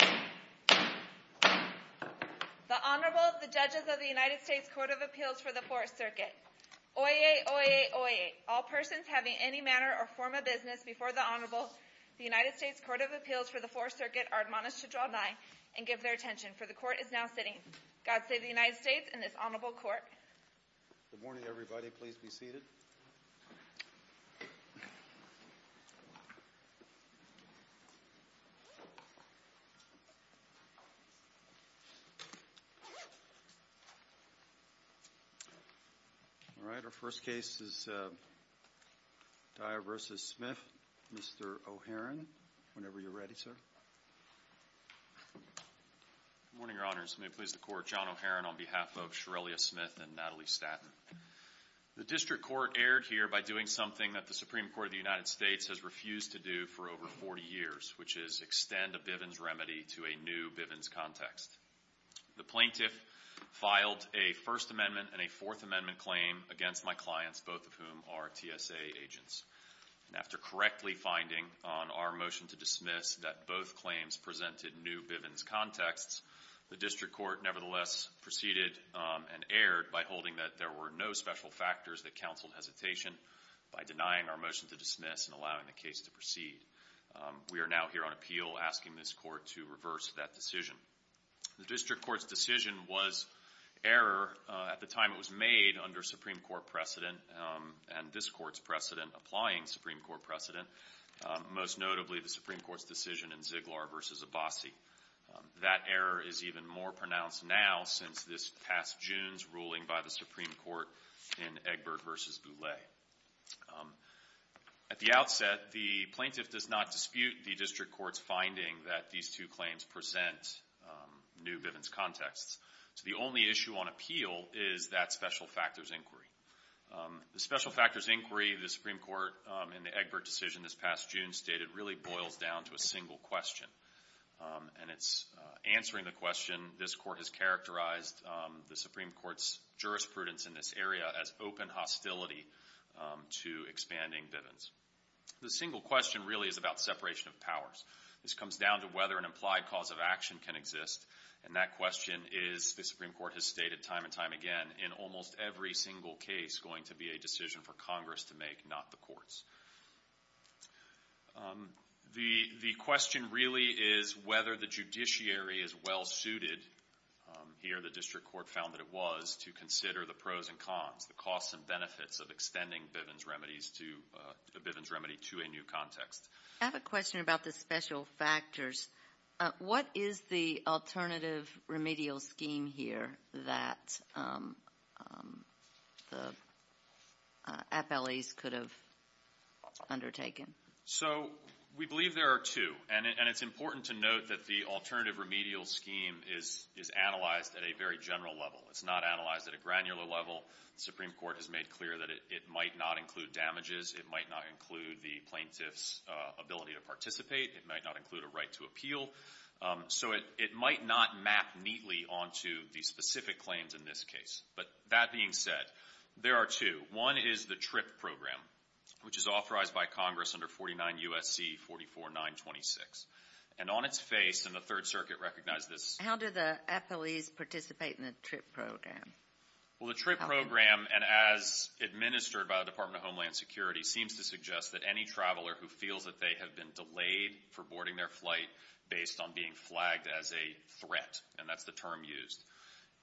The Honorable, the Judges of the United States Court of Appeals for the Fourth Circuit. Oyez, oyez, oyez. All persons having any manner or form of business before the Honorable, the United States Court of Appeals for the Fourth Circuit, are admonished to draw nigh and give their attention, for the Court is now sitting. God save the United States and this Honorable Court. Good morning, everybody. Please be seated. All right, our first case is Dyer v. Smith. Mr. O'Heron, whenever you're ready, sir. Good morning, Your Honors. May it please the Court, John O'Heron on behalf of Shirrellia Smith and Natalie Statton. The District Court erred here by doing something that the Supreme Court of the United States has refused to do for over 40 years, which is extend a Bivens remedy to a new Bivens context. The plaintiff filed a First Amendment and a Fourth Amendment claim against my clients, both of whom are TSA agents. After correctly finding on our motion to dismiss that both claims presented new Bivens contexts, the District Court nevertheless proceeded and erred by holding that there were no special factors that counseled hesitation by denying our motion to dismiss and allowing the case to proceed. We are now here on appeal asking this Court to reverse that decision. The District Court's decision was error at the time it was made under Supreme Court precedent and this Court's precedent applying Supreme Court precedent, most notably the Supreme Court's decision in Ziegler v. Abbasi. That error is even more pronounced now since this past June's ruling by the Supreme Court in Egbert v. Boulay. At the outset, the plaintiff does not dispute the District Court's finding that these two claims present new Bivens contexts. So the only issue on appeal is that special factors inquiry. The special factors inquiry the Supreme Court in the Egbert decision this past June stated really boils down to a single question. And it's answering the question this Court has characterized the Supreme Court's jurisprudence in this area as open hostility to expanding Bivens. The single question really is about separation of powers. This comes down to whether an implied cause of action can exist. And that question is, the Supreme Court has stated time and time again, in almost every single case going to be a decision for Congress to make, not the courts. The question really is whether the judiciary is well suited, here the District Court found that it was, to consider the pros and cons, the costs and benefits of extending Bivens remedies to a new context. I have a question about the special factors. What is the alternative remedial scheme here that the appellees could have undertaken? So we believe there are two. And it's important to note that the alternative remedial scheme is analyzed at a very general level. It's not analyzed at a granular level. The Supreme Court has made clear that it might not include damages. It might not include the plaintiff's ability to participate. It might not include a right to appeal. So it might not map neatly onto the specific claims in this case. But that being said, there are two. One is the TRIP program, which is authorized by Congress under 49 U.S.C. 44-926. And on its face, and the Third Circuit recognized this. How do the appellees participate in the TRIP program? Well, the TRIP program, and as administered by the Department of Homeland Security, seems to suggest that any traveler who feels that they have been delayed for boarding their flight based on being flagged as a threat, and that's the term used.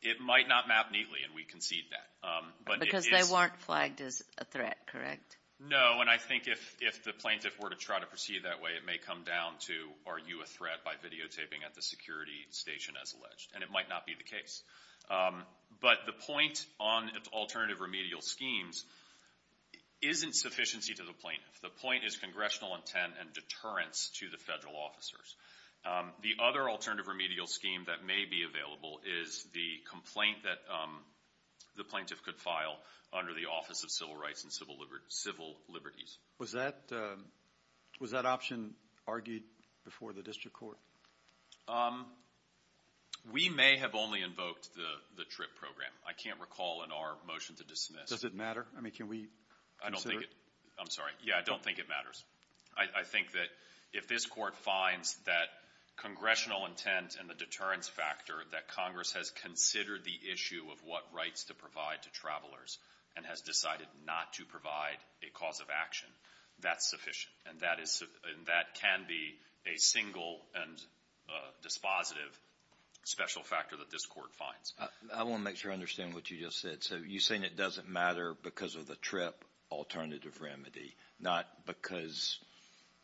It might not map neatly, and we concede that. Because they weren't flagged as a threat, correct? No, and I think if the plaintiff were to try to proceed that way, it may come down to are you a threat by videotaping at the security station as alleged. And it might not be the case. But the point on alternative remedial schemes isn't sufficiency to the plaintiff. The point is congressional intent and deterrence to the federal officers. The other alternative remedial scheme that may be available is the complaint that the plaintiff could file under the Office of Civil Rights and Civil Liberties. Was that option argued before the district court? We may have only invoked the TRIP program. I can't recall in our motion to dismiss. Does it matter? I mean, can we consider it? I'm sorry. Yeah, I don't think it matters. I think that if this court finds that congressional intent and the deterrence factor, that Congress has considered the issue of what rights to provide to travelers and has decided not to provide a cause of action, that's sufficient. And that can be a single and dispositive special factor that this court finds. I want to make sure I understand what you just said. So you're saying it doesn't matter because of the TRIP alternative remedy, not because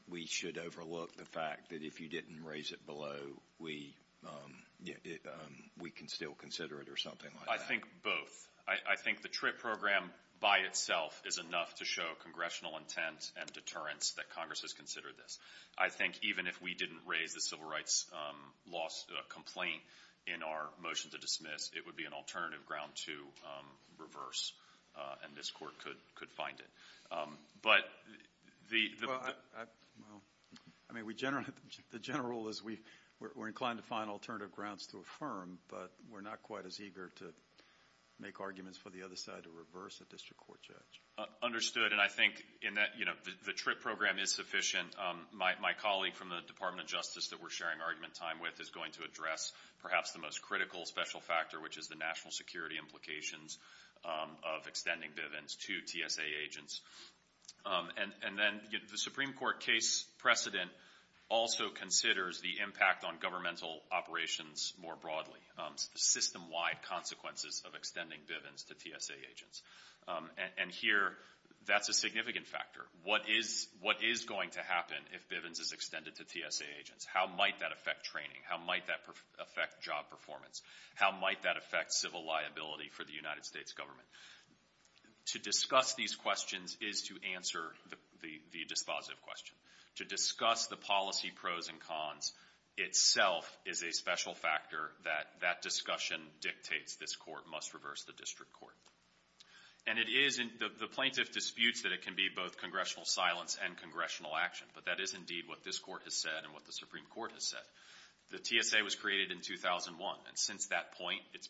we should overlook the fact that if you didn't raise it below, we can still consider it or something like that? I think both. I think the TRIP program by itself is enough to show congressional intent and deterrence that Congress has considered this. I think even if we didn't raise the civil rights complaint in our motion to dismiss, it would be an alternative ground to reverse, and this court could find it. Well, I mean, the general rule is we're inclined to find alternative grounds to affirm, but we're not quite as eager to make arguments for the other side to reverse a district court judge. Understood, and I think in that the TRIP program is sufficient. My colleague from the Department of Justice that we're sharing argument time with is going to address perhaps the most critical special factor, which is the national security implications of extending Bivens to TSA agents. And then the Supreme Court case precedent also considers the impact on governmental operations more broadly, system-wide consequences of extending Bivens to TSA agents. And here that's a significant factor. What is going to happen if Bivens is extended to TSA agents? How might that affect training? How might that affect job performance? How might that affect civil liability for the United States government? To discuss these questions is to answer the dispositive question. To discuss the policy pros and cons itself is a special factor that that discussion dictates this court must reverse the district court. And it is in the plaintiff disputes that it can be both congressional silence and congressional action, but that is indeed what this court has said and what the Supreme Court has said. The TSA was created in 2001, and since that point the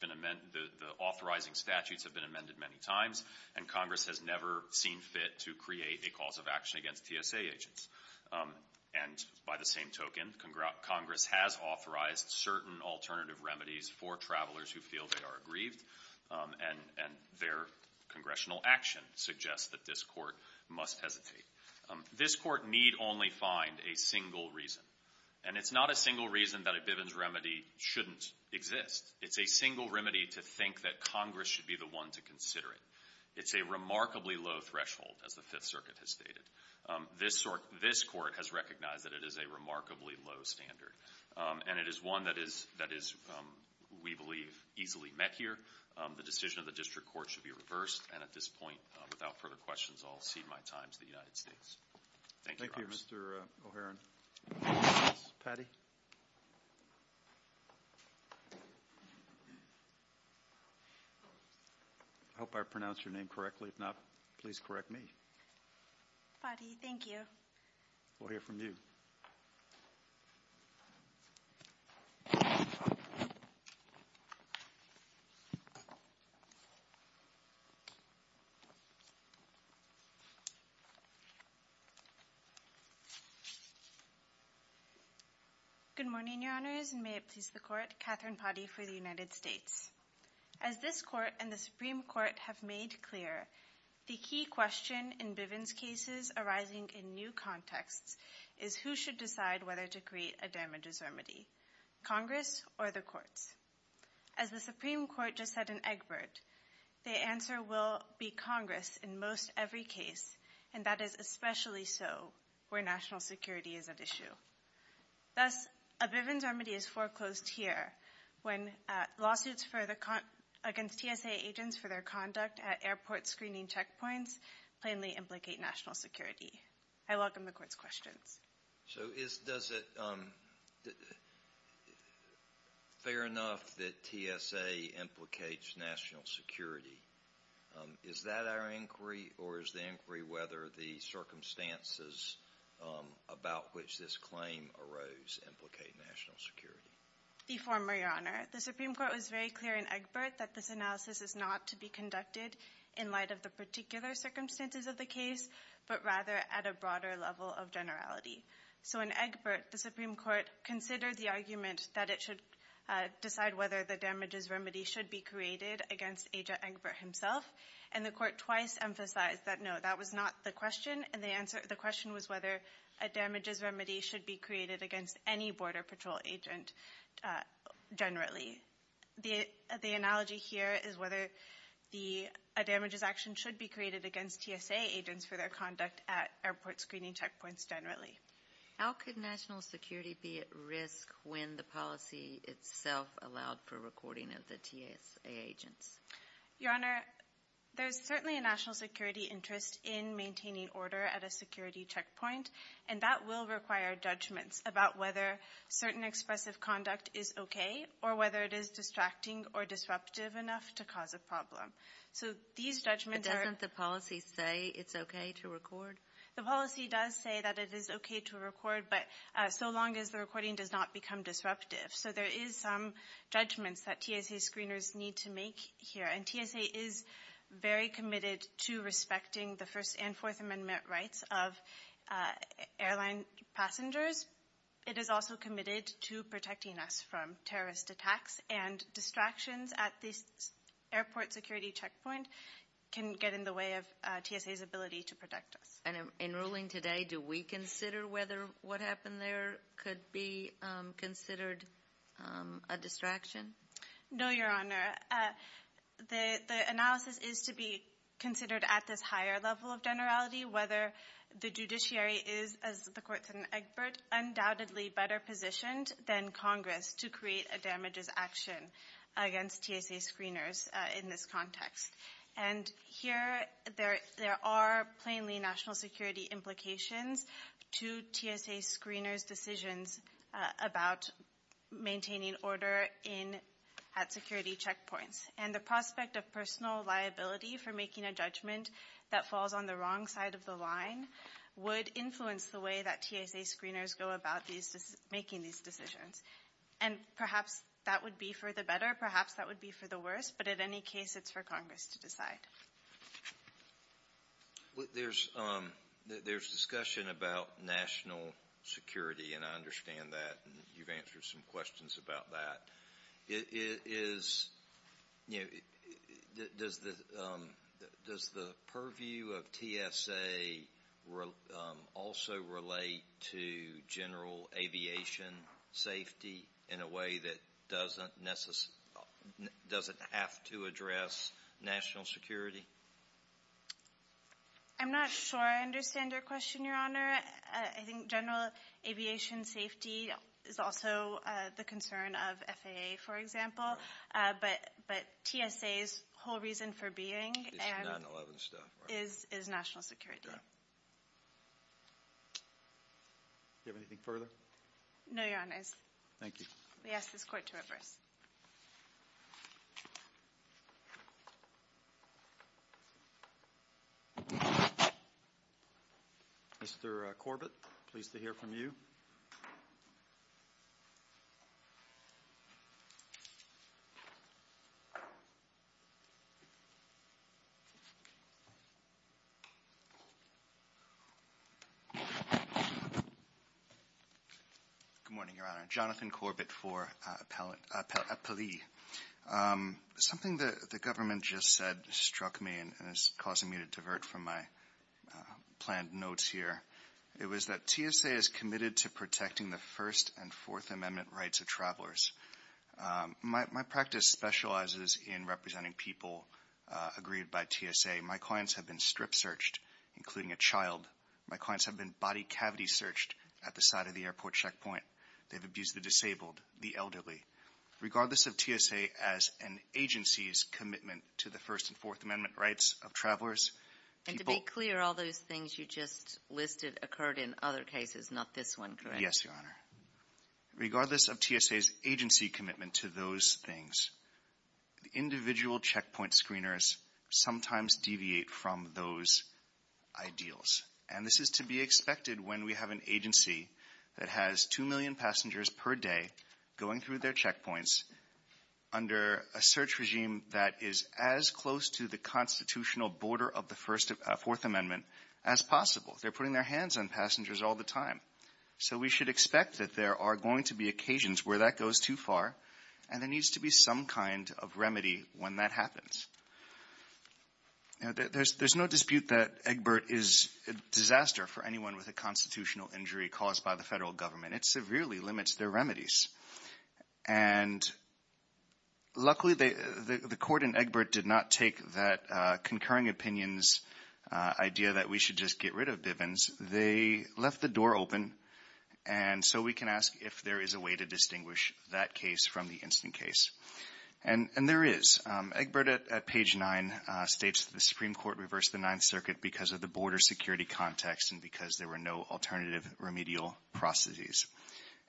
authorizing statutes have been amended many times, and Congress has never seen fit to create a cause of action against TSA agents. And by the same token, Congress has authorized certain alternative remedies for travelers who feel they are aggrieved, and their congressional action suggests that this court must hesitate. This court need only find a single reason, and it's not a single reason that a Bivens remedy shouldn't exist. It's a single remedy to think that Congress should be the one to consider it. It's a remarkably low threshold, as the Fifth Circuit has stated. This court has recognized that it is a remarkably low standard, and it is one that is, we believe, easily met here. The decision of the district court should be reversed, and at this point, without further questions, I'll cede my time to the United States. Thank you, Your Honor. Thank you, Mr. O'Heron. Ms. Patti? I hope I pronounced your name correctly. If not, please correct me. Patti, thank you. We'll hear from you. Good morning, Your Honors, and may it please the Court, Catherine Patti for the United States. As this court and the Supreme Court have made clear, the key question in Bivens cases arising in new contexts is who should decide whether to create a damages remedy, Congress or the courts? As the Supreme Court just said in Egbert, the answer will be Congress in most every case, and that is especially so where national security is at issue. Thus, a Bivens remedy is foreclosed here when lawsuits against TSA agents for their conduct at airport screening checkpoints plainly implicate national security. I welcome the Court's questions. So is it fair enough that TSA implicates national security? Is that our inquiry, or is the inquiry whether the circumstances about which this claim arose implicate national security? The former, Your Honor. The Supreme Court was very clear in Egbert that this analysis is not to be conducted in light of the particular circumstances of the case, but rather at a broader level of generality. So in Egbert, the Supreme Court considered the argument that it should decide whether the damages remedy should be created against Aja Egbert himself, and the Court twice emphasized that, no, that was not the question, and the question was whether a damages remedy should be created against any Border Patrol agent generally. The analogy here is whether a damages action should be created against TSA agents for their conduct at airport screening checkpoints generally. How could national security be at risk when the policy itself allowed for recording of the TSA agents? Your Honor, there's certainly a national security interest in maintaining order at a security checkpoint, and that will require judgments about whether certain expressive conduct is okay or whether it is distracting or disruptive enough to cause a problem. So these judgments are- But doesn't the policy say it's okay to record? The policy does say that it is okay to record, but so long as the recording does not become disruptive. So there is some judgments that TSA screeners need to make here, and TSA is very committed to respecting the First and Fourth Amendment rights of airline passengers. It is also committed to protecting us from terrorist attacks, and distractions at the airport security checkpoint can get in the way of TSA's ability to protect us. And in ruling today, do we consider whether what happened there could be considered a distraction? No, Your Honor. The analysis is to be considered at this higher level of generality, whether the judiciary is, as the court said in Egbert, undoubtedly better positioned than Congress to create a damages action against TSA screeners in this context. And here there are plainly national security implications to TSA screeners' decisions about maintaining order at security checkpoints. And the prospect of personal liability for making a judgment that falls on the wrong side of the line would influence the way that TSA screeners go about making these decisions. And perhaps that would be for the better, perhaps that would be for the worse, but in any case it's for Congress to decide. There's discussion about national security, and I understand that, and you've answered some questions about that. Does the purview of TSA also relate to general aviation safety in a way that doesn't have to address national security? I'm not sure I understand your question, Your Honor. I think general aviation safety is also the concern of FAA, for example, but TSA's whole reason for being is national security. Do you have anything further? No, Your Honors. We ask this court to reverse. Mr. Corbett, pleased to hear from you. Jonathan Corbett for Appellee. Something the government just said struck me and is causing me to divert from my planned notes here. It was that TSA is committed to protecting the First and Fourth Amendment rights of travelers. My practice specializes in representing people agreed by TSA. My clients have been strip searched, including a child. My clients have been body cavity searched at the side of the airport checkpoint. They've abused the disabled, the elderly. Regardless of TSA as an agency's commitment to the First and Fourth Amendment rights of travelers, people— And to be clear, all those things you just listed occurred in other cases, not this one, correct? Yes, Your Honor. Regardless of TSA's agency commitment to those things, individual checkpoint screeners sometimes deviate from those ideals, and this is to be expected when we have an agency that has 2 million passengers per day going through their checkpoints under a search regime that is as close to the constitutional border of the Fourth Amendment as possible. They're putting their hands on passengers all the time. So we should expect that there are going to be occasions where that goes too far, and there needs to be some kind of remedy when that happens. There's no dispute that Egbert is a disaster for anyone with a constitutional injury caused by the federal government. It severely limits their remedies. And luckily the court in Egbert did not take that concurring opinion's idea that we should just get rid of Bivens. They left the door open, and so we can ask if there is a way to distinguish that case from the instant case. And there is. Egbert at page 9 states the Supreme Court reversed the Ninth Circuit because of the border security context and because there were no alternative remedial processes.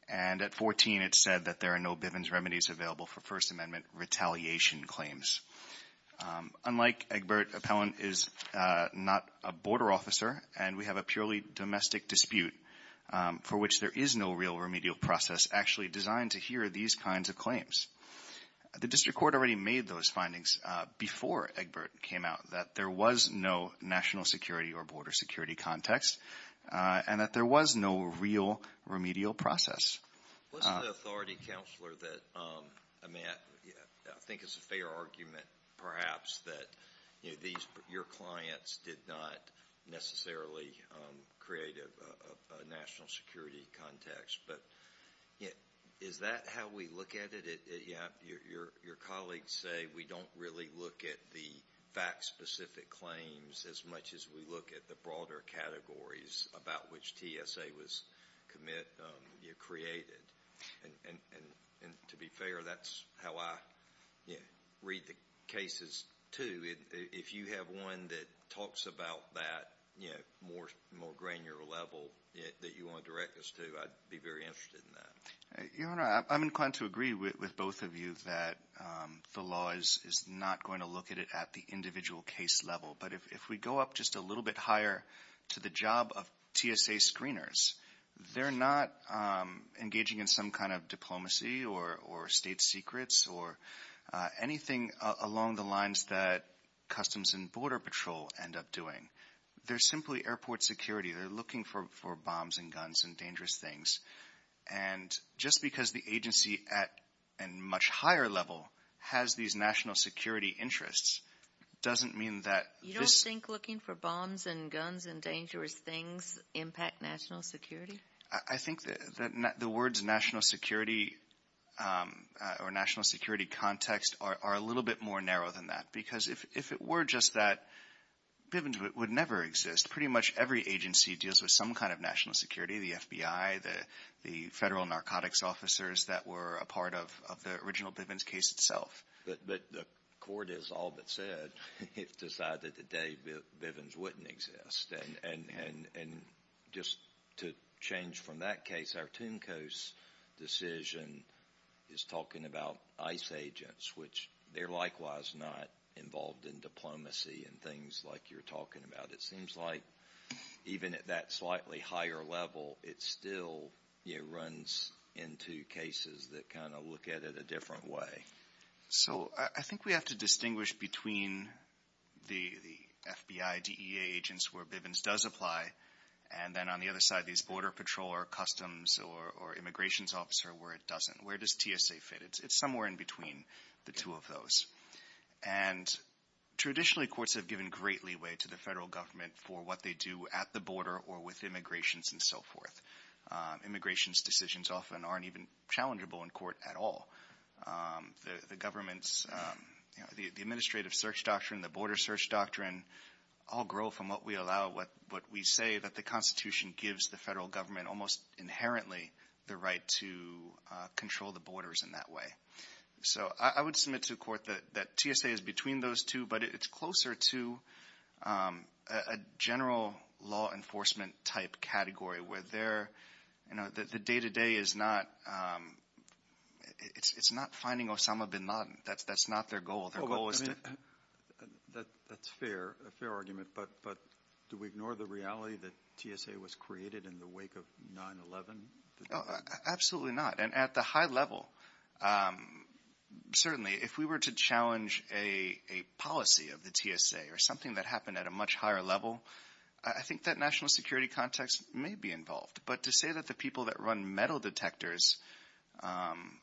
And at 14 it said that there are no Bivens remedies available for First Amendment retaliation claims. Unlike Egbert, Appellant is not a border officer, and we have a purely domestic dispute for which there is no real remedial process actually designed to hear these kinds of claims. The district court already made those findings before Egbert came out that there was no national security or border security context and that there was no real remedial process. What's the authority, Counselor, that I think is a fair argument, perhaps, that your clients did not necessarily create a national security context? Is that how we look at it? Your colleagues say we don't really look at the fact-specific claims as much as we look at the broader categories about which TSA was created. And to be fair, that's how I read the cases, too. If you have one that talks about that more granular level that you want to direct us to, I'd be very interested in that. Your Honor, I'm inclined to agree with both of you that the law is not going to look at it at the individual case level. But if we go up just a little bit higher to the job of TSA screeners, they're not engaging in some kind of diplomacy or state secrets or anything along the lines that Customs and Border Patrol end up doing. They're simply airport security. They're looking for bombs and guns and dangerous things. And just because the agency at a much higher level has these national security interests doesn't mean that this- I think that the words national security or national security context are a little bit more narrow than that. Because if it were just that, Bivens would never exist. Pretty much every agency deals with some kind of national security, the FBI, the federal narcotics officers that were a part of the original Bivens case itself. But the court has all but said it's decided today Bivens wouldn't exist. And just to change from that case, our Tuncos decision is talking about ICE agents, which they're likewise not involved in diplomacy and things like you're talking about. It seems like even at that slightly higher level, it still runs into cases that kind of look at it a different way. So I think we have to distinguish between the FBI DEA agents where Bivens does apply and then on the other side these Border Patrol or Customs or Immigration officer where it doesn't. Where does TSA fit? It's somewhere in between the two of those. And traditionally courts have given great leeway to the federal government for what they do at the border or with immigrations and so forth. Immigrations decisions often aren't even challengeable in court at all. The government's administrative search doctrine, the border search doctrine, all grow from what we allow, what we say that the Constitution gives the federal government almost inherently the right to control the borders in that way. So I would submit to the court that TSA is between those two, but it's closer to a general law enforcement type category where the day-to-day is not finding Osama bin Laden. That's not their goal. That's a fair argument, but do we ignore the reality that TSA was created in the wake of 9-11? Absolutely not. And at the high level, certainly if we were to challenge a policy of the TSA or something that happened at a much higher level, I think that national security context may be involved. But to say that the people that run metal detectors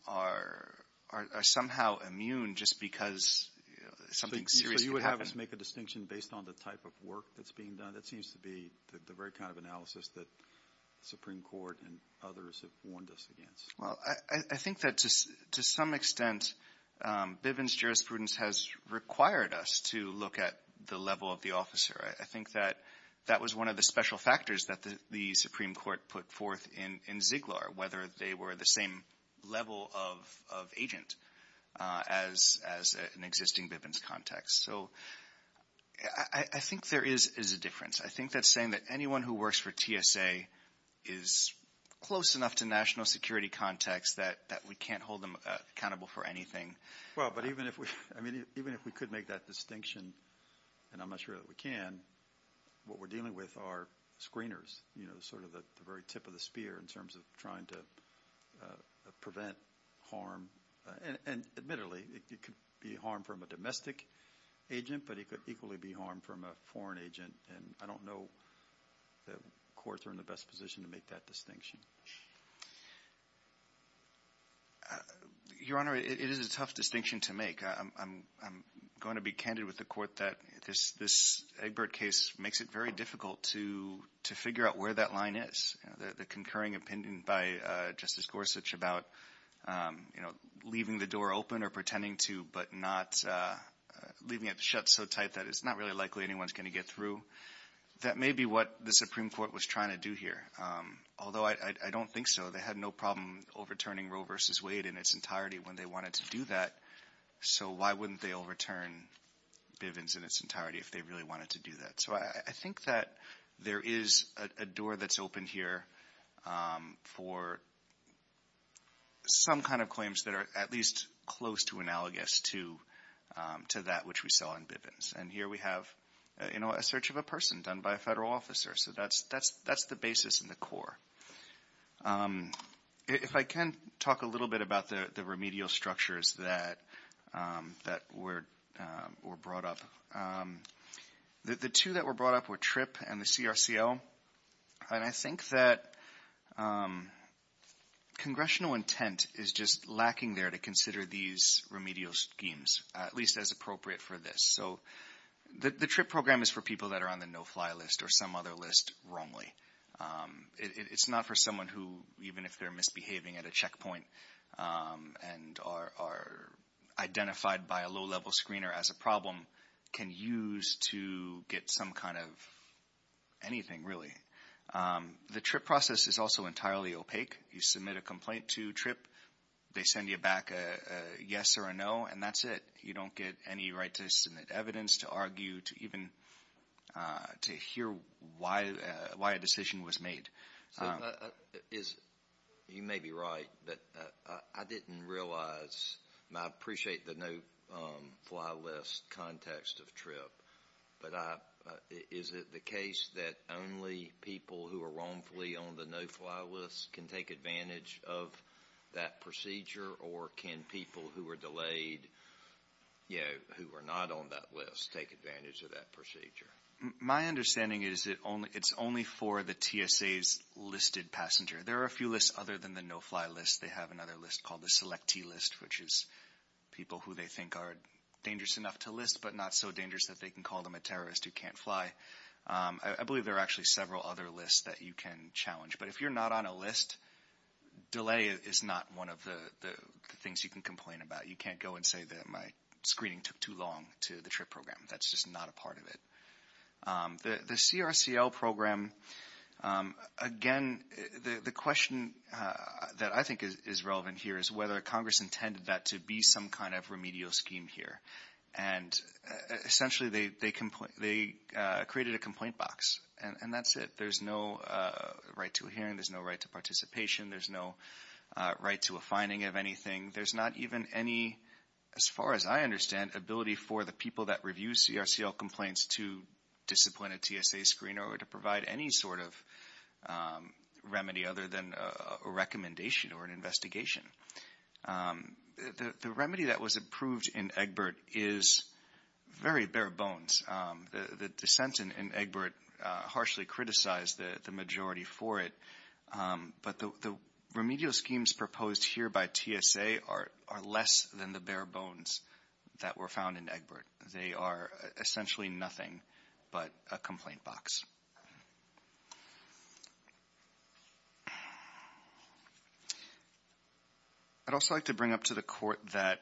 are somehow immune just because something serious could happen. So you would have us make a distinction based on the type of work that's being done? That seems to be the very kind of analysis that the Supreme Court and others have warned us against. Well, I think that to some extent Bivens jurisprudence has required us to look at the level of the officer. I think that that was one of the special factors that the Supreme Court put forth in Ziggler, whether they were the same level of agent as an existing Bivens context. So I think there is a difference. I think that's saying that anyone who works for TSA is close enough to national security context that we can't hold them accountable for anything. Well, but even if we could make that distinction, and I'm not sure that we can, what we're dealing with are screeners, sort of the very tip of the spear in terms of trying to prevent harm. And admittedly, it could be harm from a domestic agent, but it could equally be harm from a foreign agent. And I don't know that courts are in the best position to make that distinction. Your Honor, it is a tough distinction to make. I'm going to be candid with the court that this Egbert case makes it very difficult to figure out where that line is. The concurring opinion by Justice Gorsuch about, you know, leaving the door open or pretending to, but not leaving it shut so tight that it's not really likely anyone's going to get through, that may be what the Supreme Court was trying to do here. Although I don't think so. They had no problem overturning Roe v. Wade in its entirety when they wanted to do that. So why wouldn't they overturn Bivens in its entirety if they really wanted to do that? So I think that there is a door that's open here for some kind of claims that are at least close to analogous to that which we saw in Bivens. And here we have, you know, a search of a person done by a federal officer. So that's the basis and the core. If I can talk a little bit about the remedial structures that were brought up. The two that were brought up were TRIP and the CRCL. And I think that congressional intent is just lacking there to consider these remedial schemes, at least as appropriate for this. So the TRIP program is for people that are on the no-fly list or some other list wrongly. It's not for someone who, even if they're misbehaving at a checkpoint and are identified by a low-level screener as a problem, can use to get some kind of anything, really. The TRIP process is also entirely opaque. You submit a complaint to TRIP. They send you back a yes or a no, and that's it. You don't get any right to submit evidence, to argue, to even to hear why a decision was made. You may be right, but I didn't realize, and I appreciate the no-fly list context of TRIP, but is it the case that only people who are wrongfully on the no-fly list can take advantage of that procedure, or can people who are delayed, you know, who are not on that list, take advantage of that procedure? My understanding is it's only for the TSA's listed passenger. There are a few lists other than the no-fly list. They have another list called the selectee list, which is people who they think are dangerous enough to list, but not so dangerous that they can call them a terrorist who can't fly. I believe there are actually several other lists that you can challenge, but if you're not on a list, delay is not one of the things you can complain about. You can't go and say that my screening took too long to the TRIP program. That's just not a part of it. The CRCL program, again, the question that I think is relevant here is whether Congress intended that to be some kind of remedial scheme here, and essentially they created a complaint box, and that's it. There's no right to a hearing. There's no right to participation. There's no right to a finding of anything. There's not even any, as far as I understand, ability for the people that review CRCL complaints to discipline a TSA screener or to provide any sort of remedy other than a recommendation or an investigation. The remedy that was approved in Egbert is very bare bones. The dissent in Egbert harshly criticized the majority for it, but the remedial schemes proposed here by TSA are less than the bare bones that were found in Egbert. They are essentially nothing but a complaint box. I'd also like to bring up to the Court that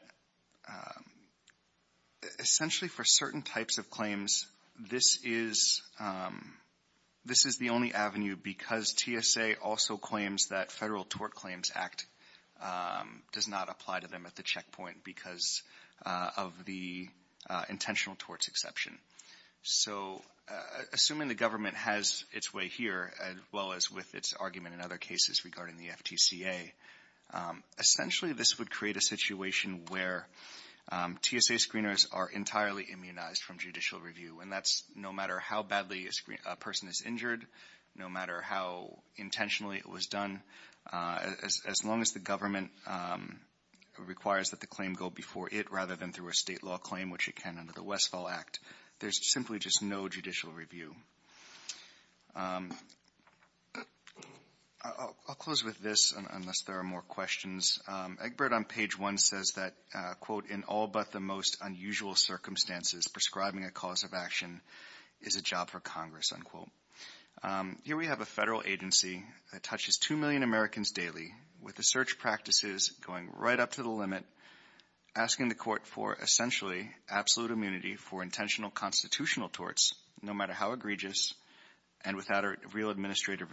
essentially for certain types of claims, this is the only avenue because TSA also claims that Federal Tort Claims Act does not apply to them at the checkpoint because of the intentional torts exception. So assuming the government has its way here, as well as with its argument in other cases regarding the FTCA, essentially this would create a situation where TSA screeners are entirely immunized from judicial review, and that's no matter how badly a person is injured, no matter how intentionally it was done. As long as the government requires that the claim go before it rather than through a state law claim, which it can under the Westfall Act, there's simply just no judicial review. I'll close with this unless there are more questions. Egbert on page 1 says that, quote, in all but the most unusual circumstances prescribing a cause of action is a job for Congress, unquote. Here we have a Federal agency that touches 2 million Americans daily with the search practices going right up to the limit, asking the court for essentially absolute immunity for intentional constitutional torts, no matter how egregious and without a real administrative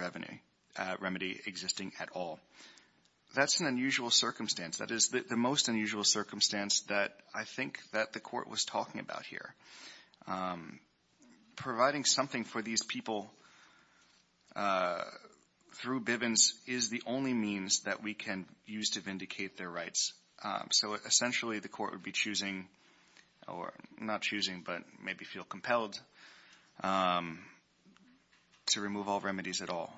remedy existing at all. That's an unusual circumstance. That is the most unusual circumstance that I think that the court was talking about here. Providing something for these people through Bivens is the only means that we can use to vindicate their rights. So essentially the court would be choosing or not choosing but maybe feel compelled to remove all remedies at all.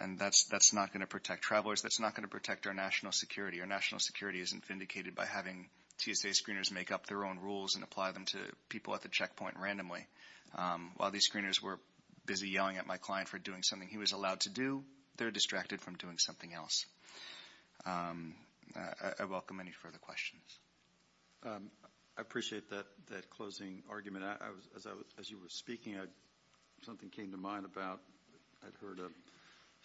And that's not going to protect travelers. That's not going to protect our national security. Our national security isn't vindicated by having TSA screeners make up their own rules and apply them to people at the checkpoint randomly. While these screeners were busy yelling at my client for doing something he was allowed to do, they're distracted from doing something else. I welcome any further questions. I appreciate that closing argument. As you were speaking, something came to mind about I'd heard a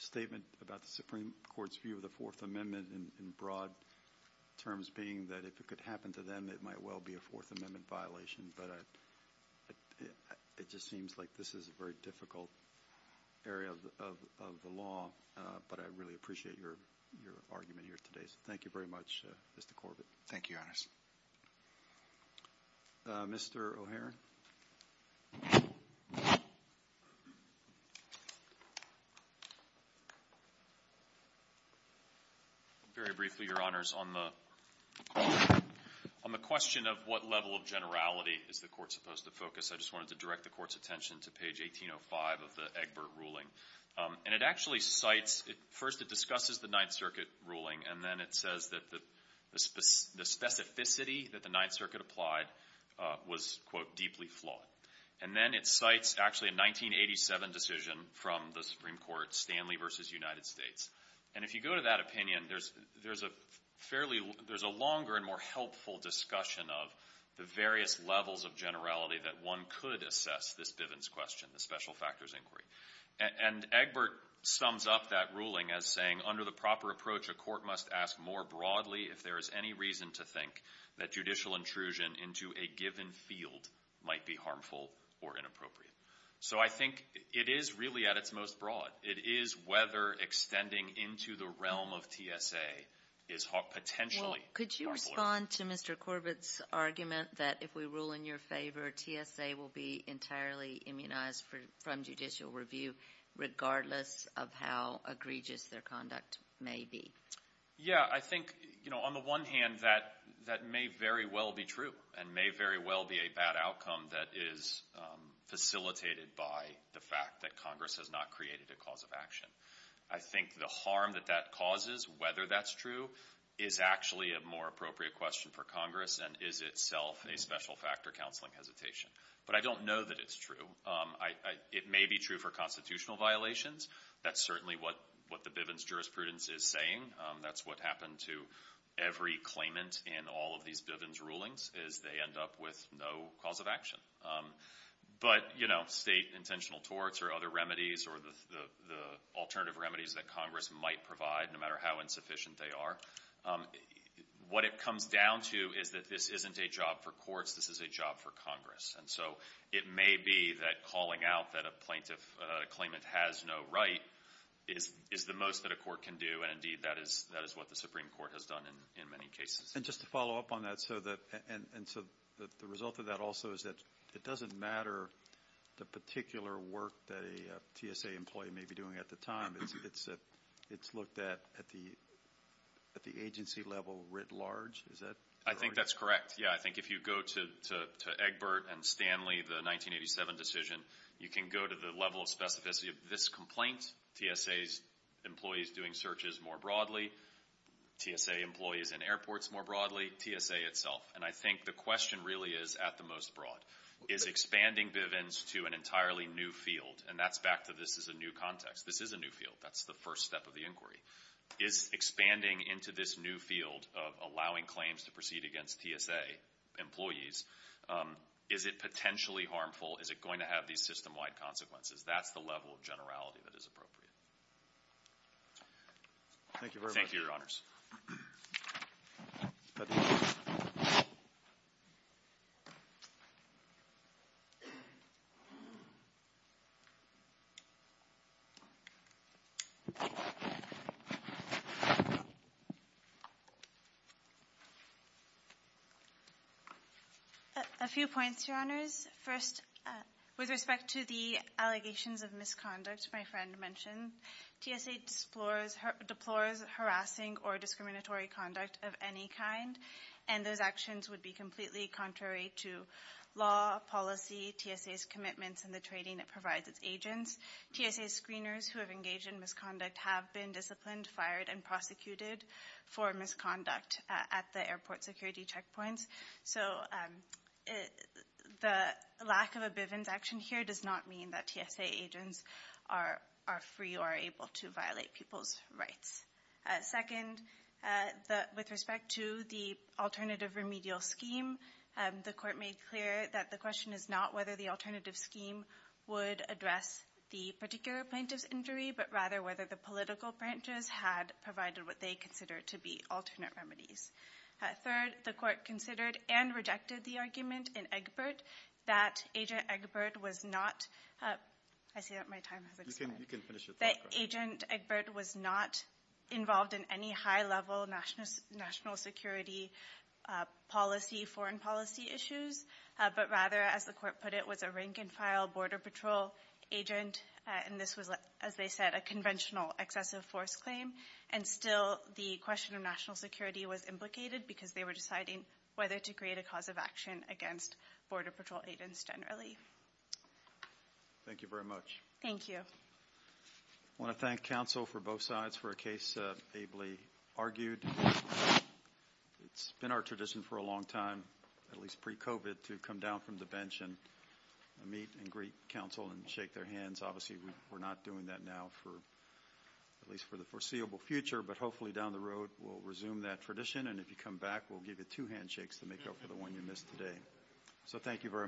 statement about the Supreme Court's view of the Fourth Amendment in broad terms being that if it could happen to them, it might well be a Fourth Amendment violation. But it just seems like this is a very difficult area of the law. But I really appreciate your argument here today. So thank you very much, Mr. Corbett. Thank you, Your Honors. Mr. O'Hara. Very briefly, Your Honors, on the question of what level of generality is the court supposed to focus, I just wanted to direct the court's attention to page 1805 of the Egbert ruling. And it actually cites, first it discusses the Ninth Circuit ruling, and then it says that the specificity that the Ninth Circuit applied was, quote, deeply flawed. And then it cites actually a 1987 decision from the Supreme Court, Stanley v. United States. And if you go to that opinion, there's a longer and more helpful discussion of the various levels of generality that one could assess this Bivens question, the special factors inquiry. And Egbert sums up that ruling as saying, under the proper approach, a court must ask more broadly if there is any reason to think that judicial intrusion into a given field might be harmful or inappropriate. So I think it is really at its most broad. It is whether extending into the realm of TSA is potentially harmful. Well, could you respond to Mr. Corbett's argument that if we rule in your favor, TSA will be entirely immunized from judicial review regardless of how egregious their conduct may be? Yeah, I think, you know, on the one hand, that may very well be true and may very well be a bad outcome that is facilitated by the fact that Congress has not created a cause of action. I think the harm that that causes, whether that's true, is actually a more appropriate question for Congress and is itself a special factor counseling hesitation. But I don't know that it's true. It may be true for constitutional violations. That's certainly what the Bivens jurisprudence is saying. That's what happened to every claimant in all of these Bivens rulings is they end up with no cause of action. But, you know, state intentional torts or other remedies or the alternative remedies that Congress might provide, no matter how insufficient they are, what it comes down to is that this isn't a job for courts. This is a job for Congress. And so it may be that calling out that a plaintiff claimant has no right is the most that a court can do. And, indeed, that is what the Supreme Court has done in many cases. And just to follow up on that, and so the result of that also is that it doesn't matter the particular work that a TSA employee may be doing at the time. It's looked at at the agency level writ large. Is that correct? I think that's correct, yeah. I think if you go to Egbert and Stanley, the 1987 decision, you can go to the level of specificity of this complaint, TSA employees doing searches more broadly, TSA employees in airports more broadly, TSA itself. And I think the question really is at the most broad. Is expanding Bivens to an entirely new field? And that's back to this is a new context. This is a new field. That's the first step of the inquiry. Is expanding into this new field of allowing claims to proceed against TSA employees, is it potentially harmful? Is it going to have these system-wide consequences? That's the level of generality that is appropriate. Thank you very much. Thank you, Your Honors. Betty. A few points, Your Honors. First, with respect to the allegations of misconduct, my friend mentioned, TSA deplores harassing or discriminatory conduct of any kind, and those actions would be completely contrary to law, policy, TSA's commitments, and the training it provides its agents. TSA screeners who have engaged in misconduct have been disciplined, fired, and prosecuted for misconduct at the airport security checkpoints. So the lack of a Bivens action here does not mean that TSA agents are free or able to violate people's rights. Second, with respect to the alternative remedial scheme, the Court made clear that the question is not whether the alternative scheme would address the particular plaintiff's injury, but rather whether the political branches had provided what they consider to be alternate remedies. Third, the Court considered and rejected the argument in Egbert that Agent Egbert was not – I see that my time has expired. You can finish your thought question. That Agent Egbert was not involved in any high-level national security policy, foreign policy issues, but rather, as the Court put it, was a rank-and-file border patrol agent, and this was, as they said, a conventional excessive force claim, and still the question of national security was implicated because they were deciding whether to create a cause of action against border patrol agents generally. Thank you very much. Thank you. I want to thank counsel for both sides for a case Abley argued. It's been our tradition for a long time, at least pre-COVID, to come down from the bench and meet and greet counsel and shake their hands. Obviously, we're not doing that now, at least for the foreseeable future, but hopefully down the road we'll resume that tradition, and if you come back we'll give you two handshakes to make up for the one you missed today. So thank you very much.